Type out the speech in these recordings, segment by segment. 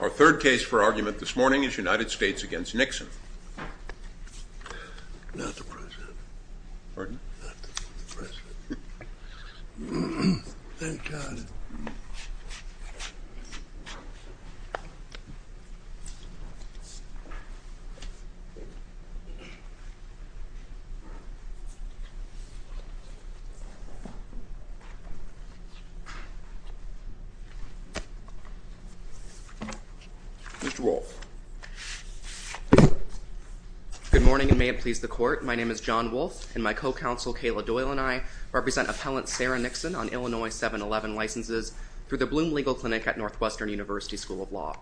Our third case for argument this morning is United States v. Nixon. Not the President. Pardon? Not the President. Thank God. Mr. Wolfe. Good morning, and may it please the Court. My name is John Wolfe, and my co-counsel Kayla Doyle and I represent appellant Sarah Nixon on Illinois 7-11 licenses through the Bloom Legal Clinic at Northwestern University School of Law.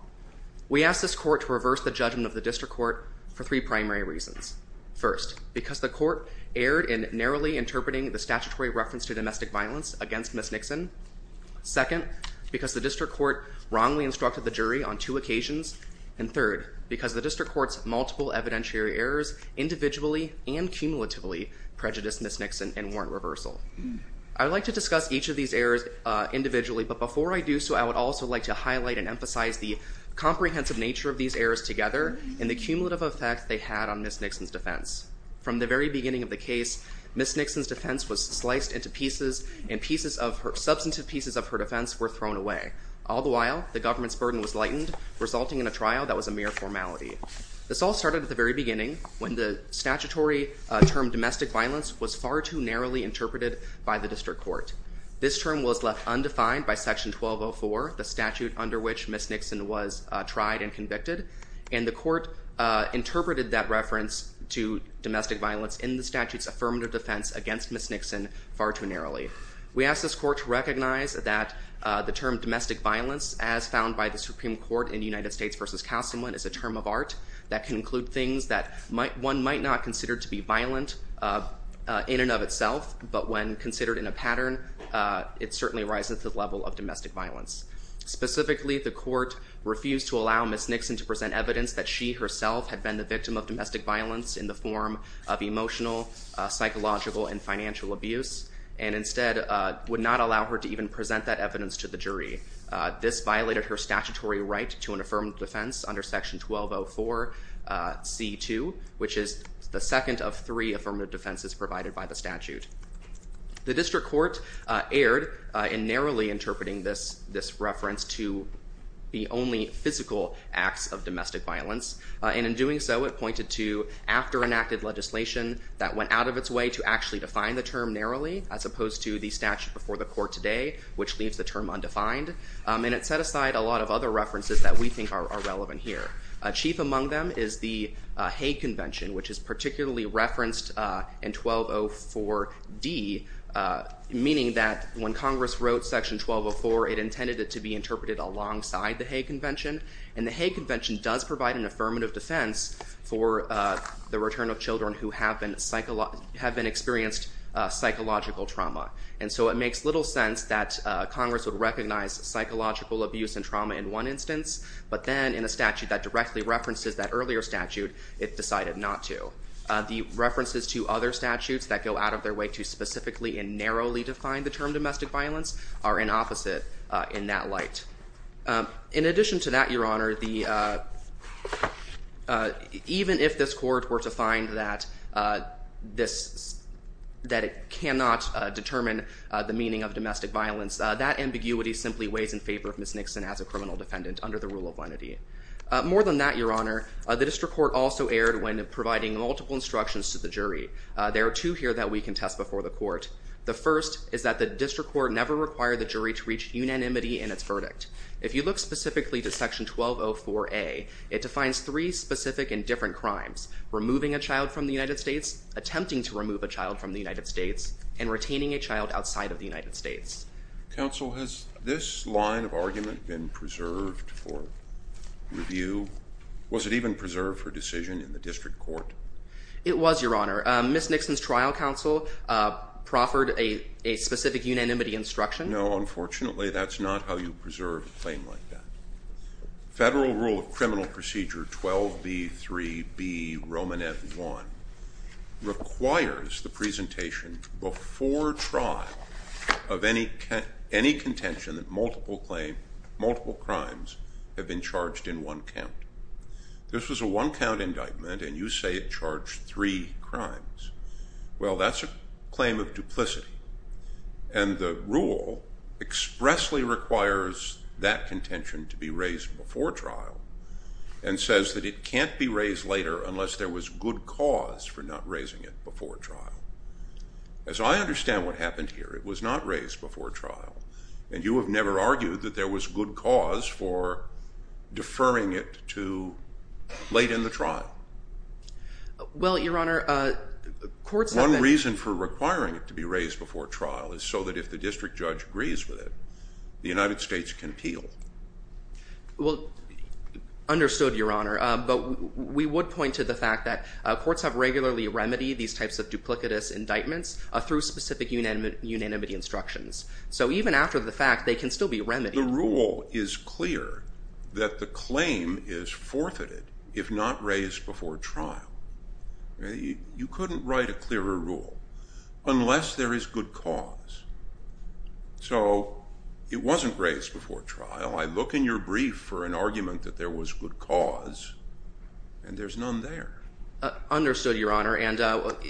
We ask this Court to reverse the judgment of the District Court for three primary reasons. First, because the Court erred in narrowly interpreting the statutory reference to domestic violence against Ms. Nixon. Second, because the District Court wrongly instructed the jury on two occasions. And third, because the District Court's multiple evidentiary errors individually and cumulatively prejudiced Ms. Nixon and warrant reversal. I would like to discuss each of these errors individually, but before I do so, I would also like to highlight and emphasize the comprehensive nature of these errors together and the cumulative effect they had on Ms. Nixon's defense. From the very beginning of the case, Ms. Nixon's defense was sliced into pieces and pieces of her, substantive pieces of her defense were thrown away. All the while, the government's burden was lightened, resulting in a trial that was a mere formality. This all started at the very beginning when the statutory term domestic violence was far too narrowly interpreted by the District Court. This term was left undefined by Section 1204, the statute under which Ms. Nixon was tried and convicted. And the Court interpreted that reference to domestic violence in the statute's affirmative defense against Ms. Nixon far too narrowly. We ask this Court to recognize that the term domestic violence, as found by the Supreme Court in United States v. Castleman, is a term of art. That can include things that one might not consider to be violent in and of itself, but when considered in a pattern, it certainly rises to the level of domestic violence. Specifically, the Court refused to allow Ms. Nixon to present evidence that she herself had been the victim of domestic violence in the form of emotional, psychological, and financial abuse, and instead would not allow her to even present that evidence to the jury. This violated her statutory right to an affirmative defense under Section 1204c.2, which is the second of three affirmative defenses provided by the statute. The District Court erred in narrowly interpreting this reference to the only physical acts of domestic violence, and in doing so it pointed to after-enacted legislation that went out of its way to actually define the term narrowly, as opposed to the statute before the Court today, which leaves the term undefined. And it set aside a lot of other references that we think are relevant here. Chief among them is the Hague Convention, which is particularly referenced in 1204d, meaning that when Congress wrote Section 1204, it intended it to be interpreted alongside the Hague Convention, and the Hague Convention does provide an affirmative defense for the return of children who have been experienced psychological trauma. And so it makes little sense that Congress would recognize psychological abuse and trauma in one instance, but then in a statute that directly references that earlier statute, it decided not to. The references to other statutes that go out of their way to specifically and narrowly define the term domestic violence are in opposite in that light. In addition to that, Your Honor, even if this Court were to find that it cannot determine the meaning of domestic violence, that ambiguity simply weighs in favor of Ms. Nixon as a criminal defendant under the rule of lenity. More than that, Your Honor, the District Court also erred when providing multiple instructions to the jury. There are two here that we contest before the Court. The first is that the District Court never required the jury to reach unanimity in its verdict. If you look specifically to Section 1204a, it defines three specific and different crimes, removing a child from the United States, attempting to remove a child from the United States, and retaining a child outside of the United States. Counsel, has this line of argument been preserved for review? Was it even preserved for decision in the District Court? It was, Your Honor. Ms. Nixon's trial counsel proffered a specific unanimity instruction. No, unfortunately, that's not how you preserve a claim like that. Federal Rule of Criminal Procedure 12b3b Roman F1 requires the presentation before trial of any contention that multiple crimes have been charged in one count. This was a one-count indictment, and you say it charged three crimes. Well, that's a claim of duplicity. And the rule expressly requires that contention to be raised before trial and says that it can't be raised later unless there was good cause for not raising it before trial. As I understand what happened here, it was not raised before trial, and you have never argued that there was good cause for deferring it to late in the trial. Well, Your Honor, courts have been The reason for requiring it to be raised before trial is so that if the district judge agrees with it, the United States can appeal. Well, understood, Your Honor. But we would point to the fact that courts have regularly remedied these types of duplicitous indictments through specific unanimity instructions. So even after the fact, they can still be remedied. The rule is clear that the claim is forfeited if not raised before trial. You couldn't write a clearer rule unless there is good cause. So it wasn't raised before trial. I look in your brief for an argument that there was good cause, and there's none there. Understood, Your Honor, and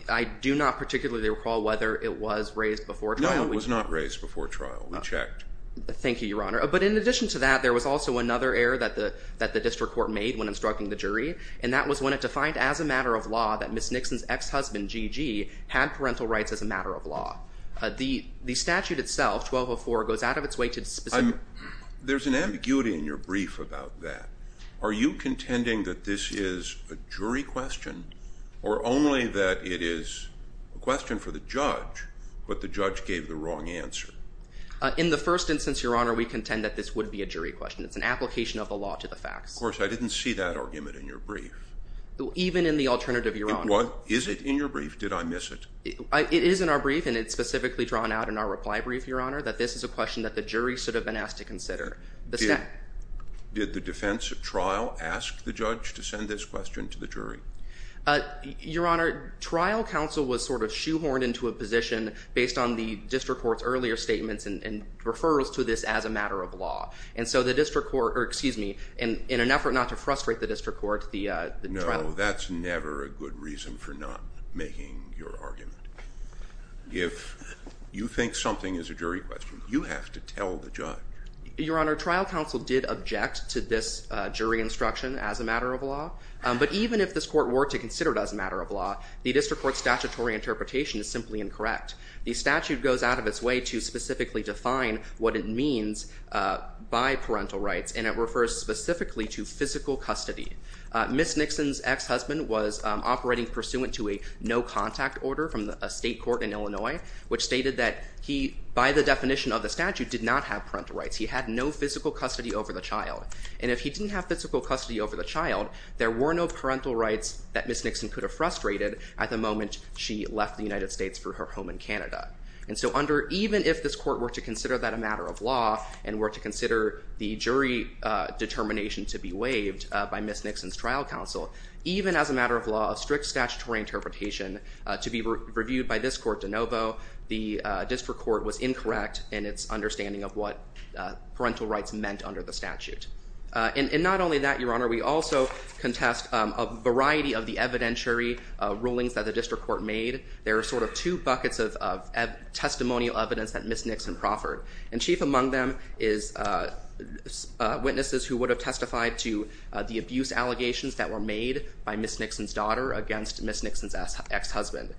I do not particularly recall whether it was raised before trial. No, it was not raised before trial. We checked. Thank you, Your Honor. But in addition to that, there was also another error that the district court made when instructing the jury, and that was when it defined as a matter of law that Ms. Nixon's ex-husband, G.G., had parental rights as a matter of law. The statute itself, 1204, goes out of its way to specify. There's an ambiguity in your brief about that. Are you contending that this is a jury question or only that it is a question for the judge, but the judge gave the wrong answer? In the first instance, Your Honor, we contend that this would be a jury question. It's an application of the law to the facts. Of course, I didn't see that argument in your brief. Even in the alternative, Your Honor. Is it in your brief? Did I miss it? It is in our brief, and it's specifically drawn out in our reply brief, Your Honor, that this is a question that the jury should have been asked to consider. Did the defense at trial ask the judge to send this question to the jury? Your Honor, trial counsel was sort of shoehorned into a position based on the district court's earlier statements and referrals to this as a matter of law. And so the district court—excuse me—in an effort not to frustrate the district court, the trial— No, that's never a good reason for not making your argument. If you think something is a jury question, you have to tell the judge. Your Honor, trial counsel did object to this jury instruction as a matter of law, but even if this court were to consider it as a matter of law, the district court's statutory interpretation is simply incorrect. The statute goes out of its way to specifically define what it means by parental rights, and it refers specifically to physical custody. Ms. Nixon's ex-husband was operating pursuant to a no-contact order from a state court in Illinois, which stated that he, by the definition of the statute, did not have parental rights. He had no physical custody over the child. And if he didn't have physical custody over the child, there were no parental rights that Ms. Nixon could have frustrated at the moment she left the United States for her home in Canada. And so even if this court were to consider that a matter of law and were to consider the jury determination to be waived by Ms. Nixon's trial counsel, even as a matter of law, a strict statutory interpretation to be reviewed by this court de novo, the district court was incorrect in its understanding of what parental rights meant under the statute. And not only that, Your Honor, we also contest a variety of the evidentiary rulings that the district court made. There are sort of two buckets of testimonial evidence that Ms. Nixon proffered, and chief among them is witnesses who would have testified to the abuse allegations that were made by Ms. Nixon's daughter against Ms. Nixon's ex-husband.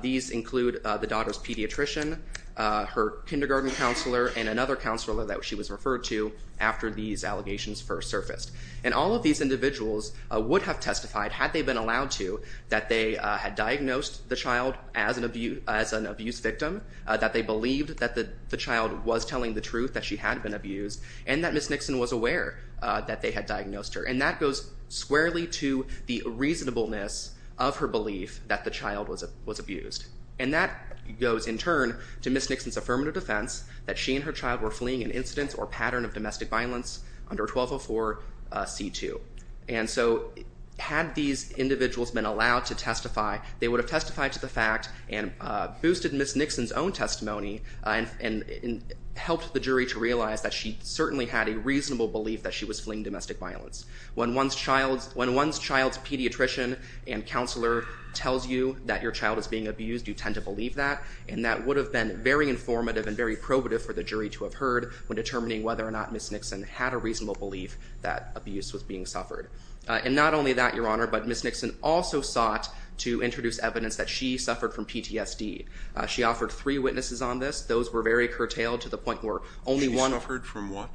These include the daughter's pediatrician, her kindergarten counselor, and another counselor that she was referred to after these allegations first surfaced. And all of these individuals would have testified, had they been allowed to, that they had diagnosed the child as an abuse victim, that they believed that the child was telling the truth, that she had been abused, and that Ms. Nixon was aware that they had diagnosed her. And that goes squarely to the reasonableness of her belief that the child was abused. And that goes, in turn, to Ms. Nixon's affirmative defense that she and her child were fleeing an incident or pattern of domestic violence under 1204c2. And so had these individuals been allowed to testify, they would have testified to the fact and boosted Ms. Nixon's own testimony and helped the jury to realize that she certainly had a reasonable belief that she was fleeing domestic violence. When one's child's pediatrician and counselor tells you that your child is being abused, you tend to believe that. And that would have been very informative and very probative for the jury to have heard when determining whether or not Ms. Nixon had a reasonable belief that abuse was being suffered. And not only that, Your Honor, but Ms. Nixon also sought to introduce evidence that she suffered from PTSD. She offered three witnesses on this. Those were very curtailed to the point where only one— She suffered from what?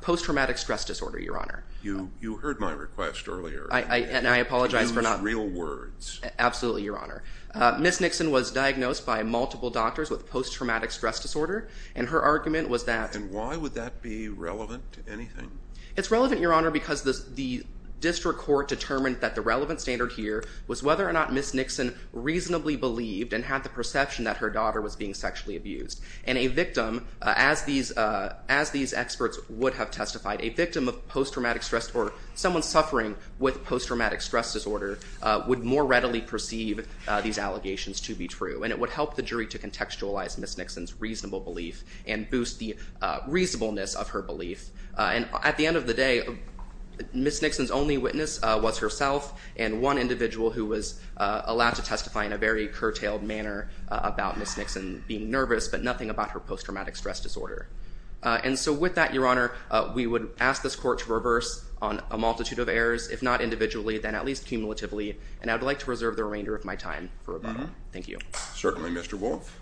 Post-traumatic stress disorder, Your Honor. You heard my request earlier. And I apologize for not— Use real words. Absolutely, Your Honor. Ms. Nixon was diagnosed by multiple doctors with post-traumatic stress disorder, and her argument was that— And why would that be relevant to anything? It's relevant, Your Honor, because the district court determined that the relevant standard here was whether or not Ms. Nixon reasonably believed and had the perception that her daughter was being sexually abused. And a victim, as these experts would have testified, a victim of post-traumatic stress or someone suffering with post-traumatic stress disorder would more readily perceive these allegations to be true. And it would help the jury to contextualize Ms. Nixon's reasonable belief and boost the reasonableness of her belief. And at the end of the day, Ms. Nixon's only witness was herself and one individual who was allowed to testify in a very curtailed manner about Ms. Nixon being nervous, but nothing about her post-traumatic stress disorder. And so with that, Your Honor, we would ask this court to reverse on a multitude of errors, if not individually, then at least cumulatively, and I would like to reserve the remainder of my time for rebuttal. Thank you. Certainly, Mr. Wolf.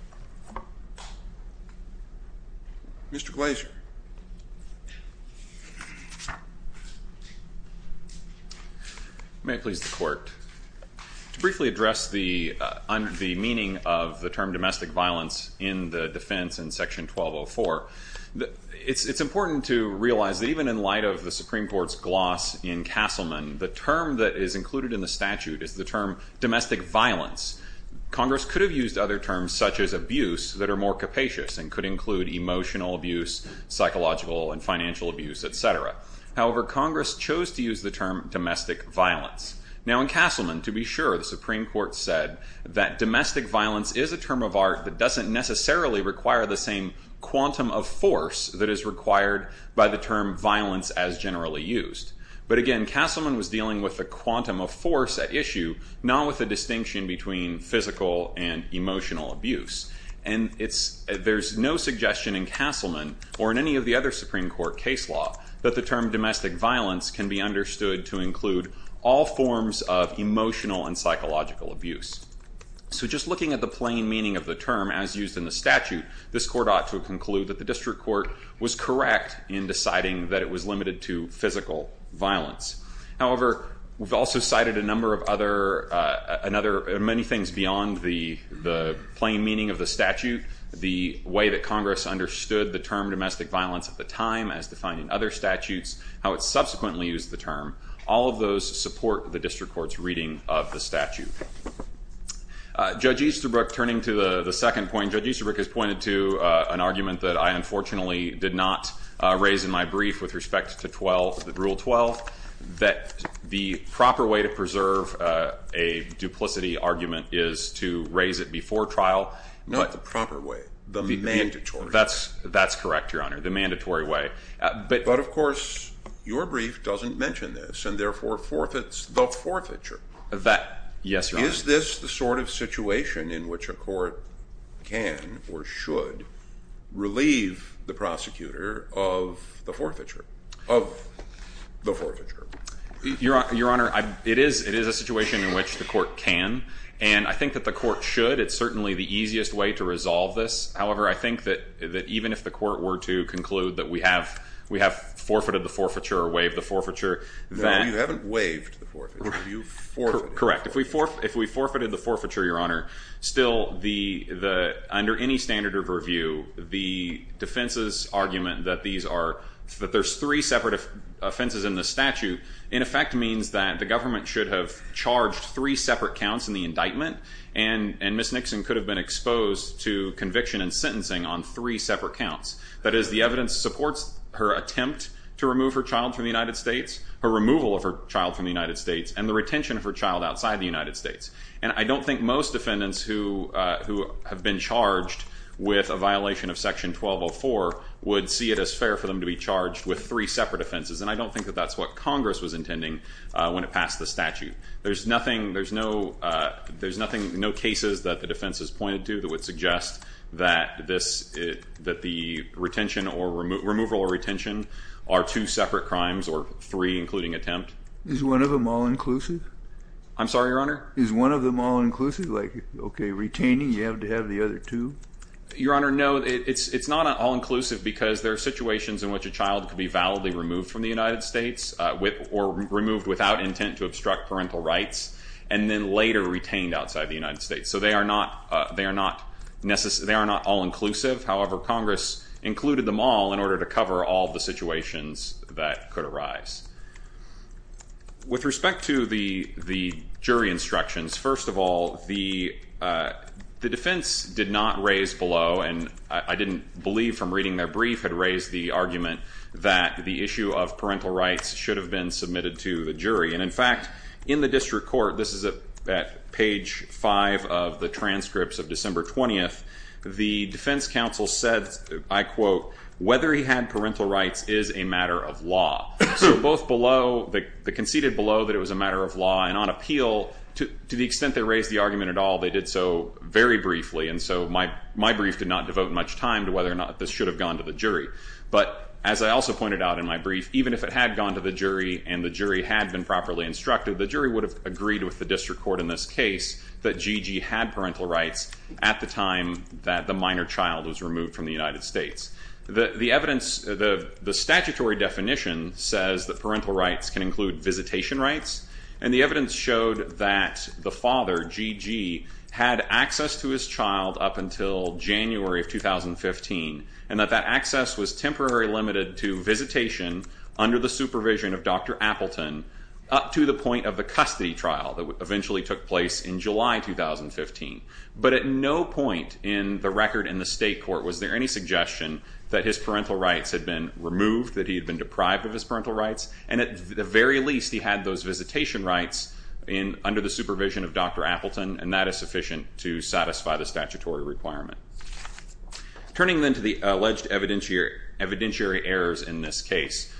Mr. Glazer. May it please the Court. To briefly address the meaning of the term domestic violence in the defense in Section 1204, it's important to realize that even in light of the Supreme Court's gloss in Castleman, the term that is included in the statute is the term domestic violence. Congress could have used other terms such as abuse that are more capacious and could include emotional abuse, psychological and financial abuse, et cetera. However, Congress chose to use the term domestic violence. Now in Castleman, to be sure, the Supreme Court said that domestic violence is a term of art that doesn't necessarily require the same quantum of force that is required by the term violence as generally used. But again, Castleman was dealing with the quantum of force at issue, not with the distinction between physical and emotional abuse. And there's no suggestion in Castleman or in any of the other Supreme Court case law that the term domestic violence can be understood to include all forms of emotional and psychological abuse. So just looking at the plain meaning of the term as used in the statute, this Court ought to conclude that the District Court was correct in deciding that it was limited to physical violence. However, we've also cited a number of other, many things beyond the plain meaning of the statute, the way that Congress understood the term domestic violence at the time as defined in other statutes, how it subsequently used the term. All of those support the District Court's reading of the statute. Judge Easterbrook, turning to the second point, Judge Easterbrook has pointed to an argument that I unfortunately did not raise in my brief with respect to Rule 12, that the proper way to preserve a duplicity argument is to raise it before trial. Not the proper way, the mandatory way. That's correct, Your Honor, the mandatory way. But of course, your brief doesn't mention this, and therefore forfeits the forfeiture. Yes, Your Honor. Is this the sort of situation in which a court can or should relieve the prosecutor of the forfeiture? Your Honor, it is a situation in which the court can, and I think that the court should. It's certainly the easiest way to resolve this. However, I think that even if the court were to conclude that we have forfeited the forfeiture or waived the forfeiture. No, you haven't waived the forfeiture. You forfeited it. Correct. If we forfeited the forfeiture, Your Honor, still under any standard of review, the defense's argument that there's three separate offenses in the statute, in effect means that the government should have charged three separate counts in the indictment and Ms. Nixon could have been exposed to conviction and sentencing on three separate counts. That is, the evidence supports her attempt to remove her child from the United States, her removal of her child from the United States, and the retention of her child outside the United States. And I don't think most defendants who have been charged with a violation of Section 1204 would see it as fair for them to be charged with three separate offenses, and I don't think that that's what Congress was intending when it passed the statute. There's nothing, there's no cases that the defense has pointed to that would suggest that this, that the retention or removal or retention are two separate crimes or three, including attempt. Is one of them all-inclusive? I'm sorry, Your Honor? Is one of them all-inclusive? Like, okay, retaining, you have to have the other two? Your Honor, no. It's not all-inclusive because there are situations in which a child can be validly removed from the United States or removed without intent to obstruct parental rights and then later retained outside the United States. So they are not all-inclusive. However, Congress included them all in order to cover all the situations that could arise. With respect to the jury instructions, first of all, the defense did not raise below, and I didn't believe from reading their brief, had raised the argument that the issue of parental rights should have been submitted to the jury. And, in fact, in the district court, this is at page 5 of the transcripts of December 20th, the defense counsel said, I quote, whether he had parental rights is a matter of law. So both below, they conceded below that it was a matter of law, and on appeal, to the extent they raised the argument at all, they did so very briefly, and so my brief did not devote much time to whether or not this should have gone to the jury. But as I also pointed out in my brief, even if it had gone to the jury and the jury had been properly instructed, the jury would have agreed with the district court in this case that Gigi had parental rights at the time that the minor child was removed from the United States. The statutory definition says that parental rights can include visitation rights, and the evidence showed that the father, Gigi, had access to his child up until January of 2015, and that that access was temporarily limited to visitation under the supervision of Dr. Appleton up to the point of the custody trial that eventually took place in July 2015. But at no point in the record in the state court was there any suggestion that his parental rights had been removed, that he had been deprived of his parental rights, and at the very least he had those visitation rights under the supervision of Dr. Appleton, and that is sufficient to satisfy the statutory requirement. Turning then to the alleged evidentiary errors in this case,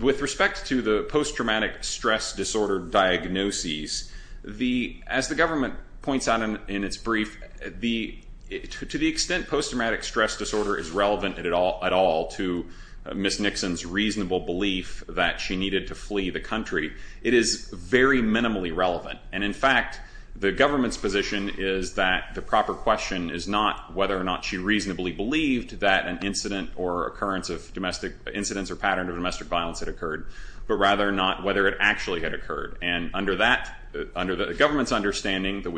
with respect to the post-traumatic stress disorder diagnoses, as the government points out in its brief, to the extent post-traumatic stress disorder is relevant at all to Ms. Nixon's reasonable belief that she needed to flee the country, it is very minimally relevant. And in fact, the government's position is that the proper question is not whether or not she reasonably believed that an incident or occurrence of domestic incidents or pattern of domestic violence had occurred, but rather not whether it actually had occurred. And under the government's understanding that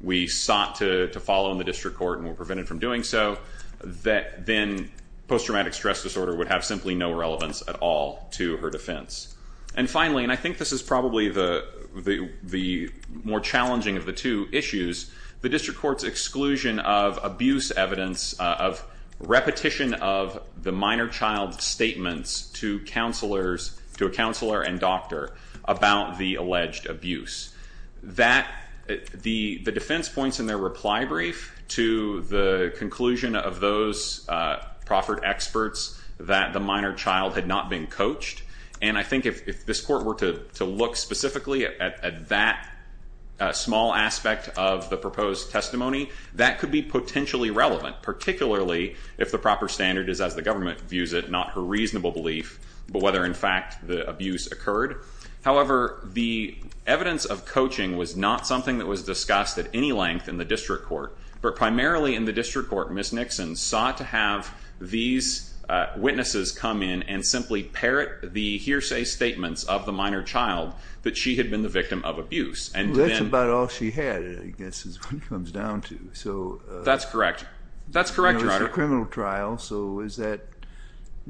we sought to follow in the district court and were prevented from doing so, that then post-traumatic stress disorder would have simply no relevance at all to her defense. And finally, and I think this is probably the more challenging of the two issues, the district court's exclusion of abuse evidence, of repetition of the minor child's statements to a counselor and doctor about the alleged abuse. The defense points in their reply brief to the conclusion of those proffered experts that the minor child had not been coached. And I think if this court were to look specifically at that small aspect of the proposed testimony, that could be potentially relevant, particularly if the proper standard is, as the government views it, not her reasonable belief, but whether, in fact, the abuse occurred. However, the evidence of coaching was not something that was discussed at any length in the district court. But primarily in the district court, Ms. Nixon sought to have these witnesses come in and simply parrot the hearsay statements of the minor child that she had been the victim of abuse. That's about all she had, I guess, is what it comes down to. That's correct. That's correct, Your Honor. It was a criminal trial, so is that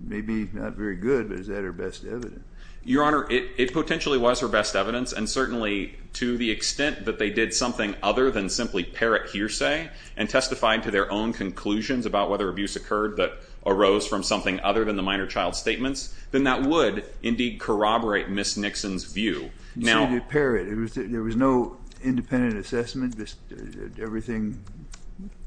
maybe not very good, but is that her best evidence? Your Honor, it potentially was her best evidence. And certainly to the extent that they did something other than simply parrot hearsay and testified to their own conclusions about whether abuse occurred that arose from something other than the minor child's statements, then that would indeed corroborate Ms. Nixon's view. She did parrot. There was no independent assessment. Everything,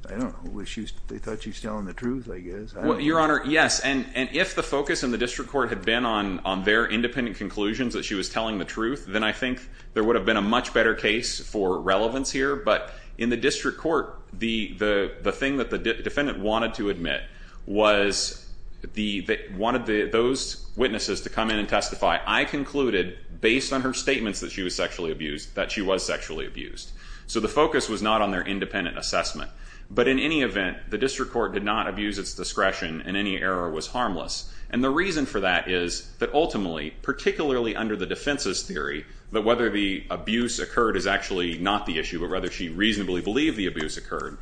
I don't know, they thought she was telling the truth, I guess. Your Honor, yes. And if the focus in the district court had been on their independent conclusions that she was telling the truth, then I think there would have been a much better case for relevance here. But in the district court, the thing that the defendant wanted to admit was they wanted those witnesses to come in and testify. I concluded, based on her statements that she was sexually abused, that she was sexually abused. So the focus was not on their independent assessment. But in any event, the district court did not abuse its discretion, and any error was harmless. And the reason for that is that ultimately, particularly under the defense's theory, that whether the abuse occurred is actually not the issue, but rather she reasonably believed the abuse occurred,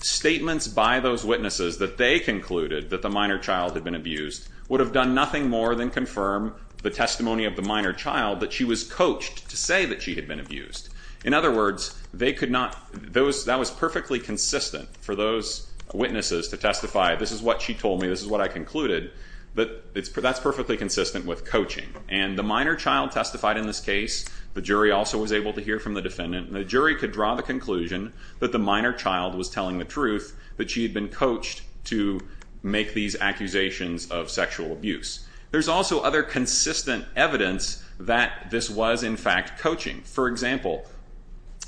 statements by those witnesses that they concluded that the minor child had been abused would have done nothing more than confirm the testimony of the minor child that she was coached to say that she had been abused. In other words, that was perfectly consistent for those witnesses to testify, this is what she told me, this is what I concluded. That's perfectly consistent with coaching. And the minor child testified in this case. The jury also was able to hear from the defendant. And the jury could draw the conclusion that the minor child was telling the truth, that she had been coached to make these accusations of sexual abuse. There's also other consistent evidence that this was, in fact, coaching. For example,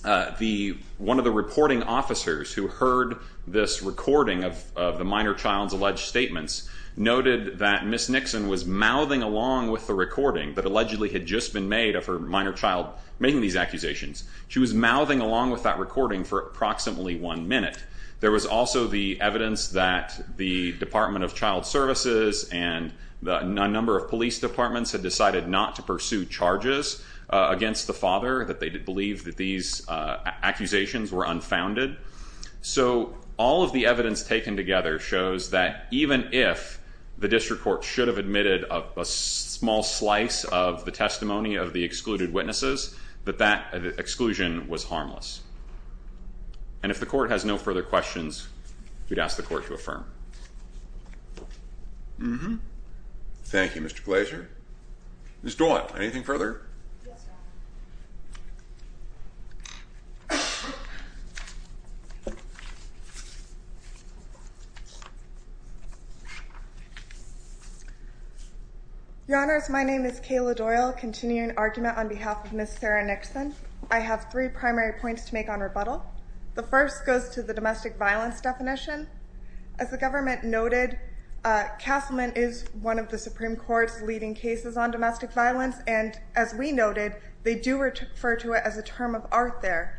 one of the reporting officers who heard this recording of the minor child's alleged statements, noted that Ms. Nixon was mouthing along with the recording that allegedly had just been made of her minor child making these accusations. She was mouthing along with that recording for approximately one minute. There was also the evidence that the Department of Child Services and a number of police departments had decided not to pursue charges against the father, that they believed that these accusations were unfounded. So all of the evidence taken together shows that even if the district court should have admitted a small slice of the testimony of the excluded witnesses, that that exclusion was harmless. And if the court has no further questions, we'd ask the court to affirm. Thank you, Mr. Glazer. Ms. Doyle, anything further? Your Honors, my name is Kayla Doyle, continuing argument on behalf of Ms. Sarah Nixon. I have three primary points to make on rebuttal. The first goes to the domestic violence definition. As the government noted, Castleman is one of the Supreme Court's leading cases on domestic violence, and as we noted, they do refer to it as a term of art there.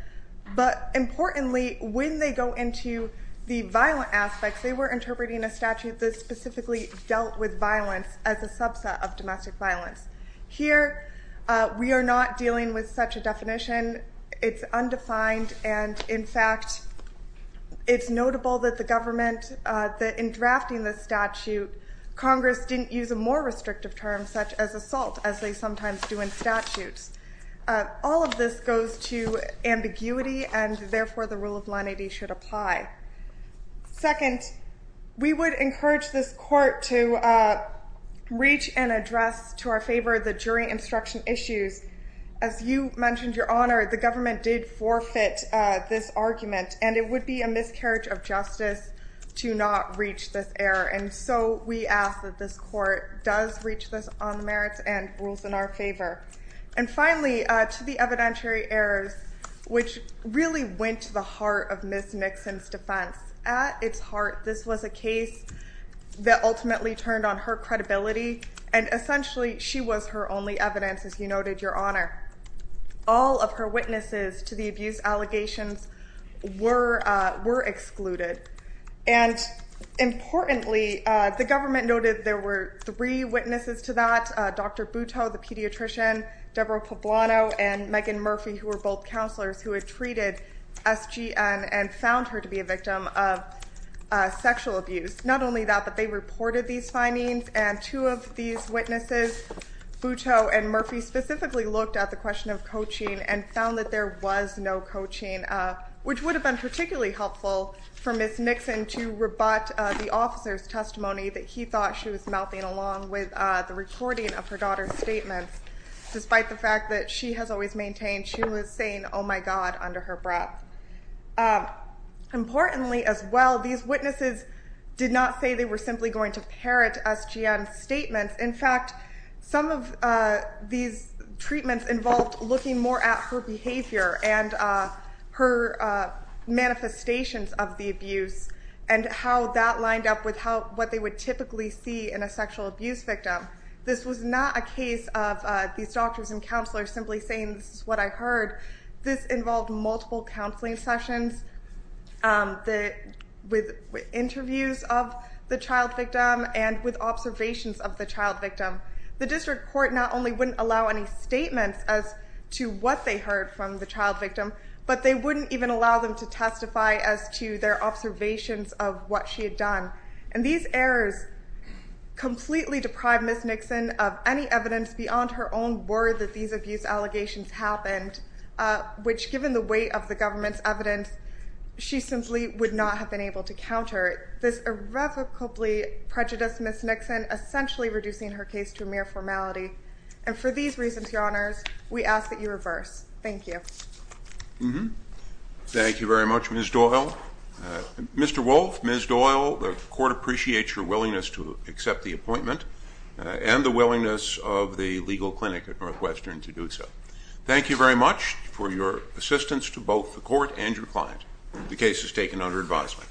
But importantly, when they go into the violent aspects, they were interpreting a statute that specifically dealt with violence as a subset of domestic violence. Here, we are not dealing with such a definition. It's undefined, and in fact, it's notable that the government, that in drafting the statute, Congress didn't use a more restrictive term, such as assault, as they sometimes do in statutes. All of this goes to ambiguity, and therefore the rule of lenity should apply. Second, we would encourage this court to reach and address to our favor the jury instruction issues. As you mentioned, Your Honor, the government did forfeit this argument, and it would be a miscarriage of justice to not reach this error, and so we ask that this court does reach this on the merits and rules in our favor. And finally, to the evidentiary errors, which really went to the heart of Ms. Nixon's defense. At its heart, this was a case that ultimately turned on her credibility, and essentially, she was her only evidence, as you noted, Your Honor. All of her witnesses to the abuse allegations were excluded, and importantly, the government noted there were three witnesses to that, Dr. Butow, the pediatrician, Deborah Poblano, and Megan Murphy, who were both counselors, who had treated SGN and found her to be a victim of sexual abuse. Not only that, but they reported these findings, and two of these witnesses, Butow and Murphy, specifically looked at the question of coaching and found that there was no coaching, which would have been particularly helpful for Ms. Nixon to rebut the officer's testimony that he thought she was mouthing along with the recording of her daughter's statement. Despite the fact that she has always maintained she was saying, oh, my God, under her breath. Importantly, as well, these witnesses did not say they were simply going to parrot SGN's statements. In fact, some of these treatments involved looking more at her behavior and her manifestations of the abuse and how that lined up with what they would typically see in a sexual abuse victim. This was not a case of these doctors and counselors simply saying, this is what I heard. This involved multiple counseling sessions with interviews of the child victim and with observations of the child victim. The district court not only wouldn't allow any statements as to what they heard from the child victim, but they wouldn't even allow them to testify as to their observations of what she had done. And these errors completely deprived Ms. Nixon of any evidence beyond her own word that these abuse allegations happened, which given the weight of the government's evidence, she simply would not have been able to counter. This irrevocably prejudiced Ms. Nixon, essentially reducing her case to mere formality. And for these reasons, your honors, we ask that you reverse. Thank you. Thank you very much, Ms. Doyle. Mr. Wolf, Ms. Doyle, the court appreciates your willingness to accept the appointment and the willingness of the legal clinic at Northwestern to do so. Thank you very much for your assistance to both the court and your client. The case is taken under advisement.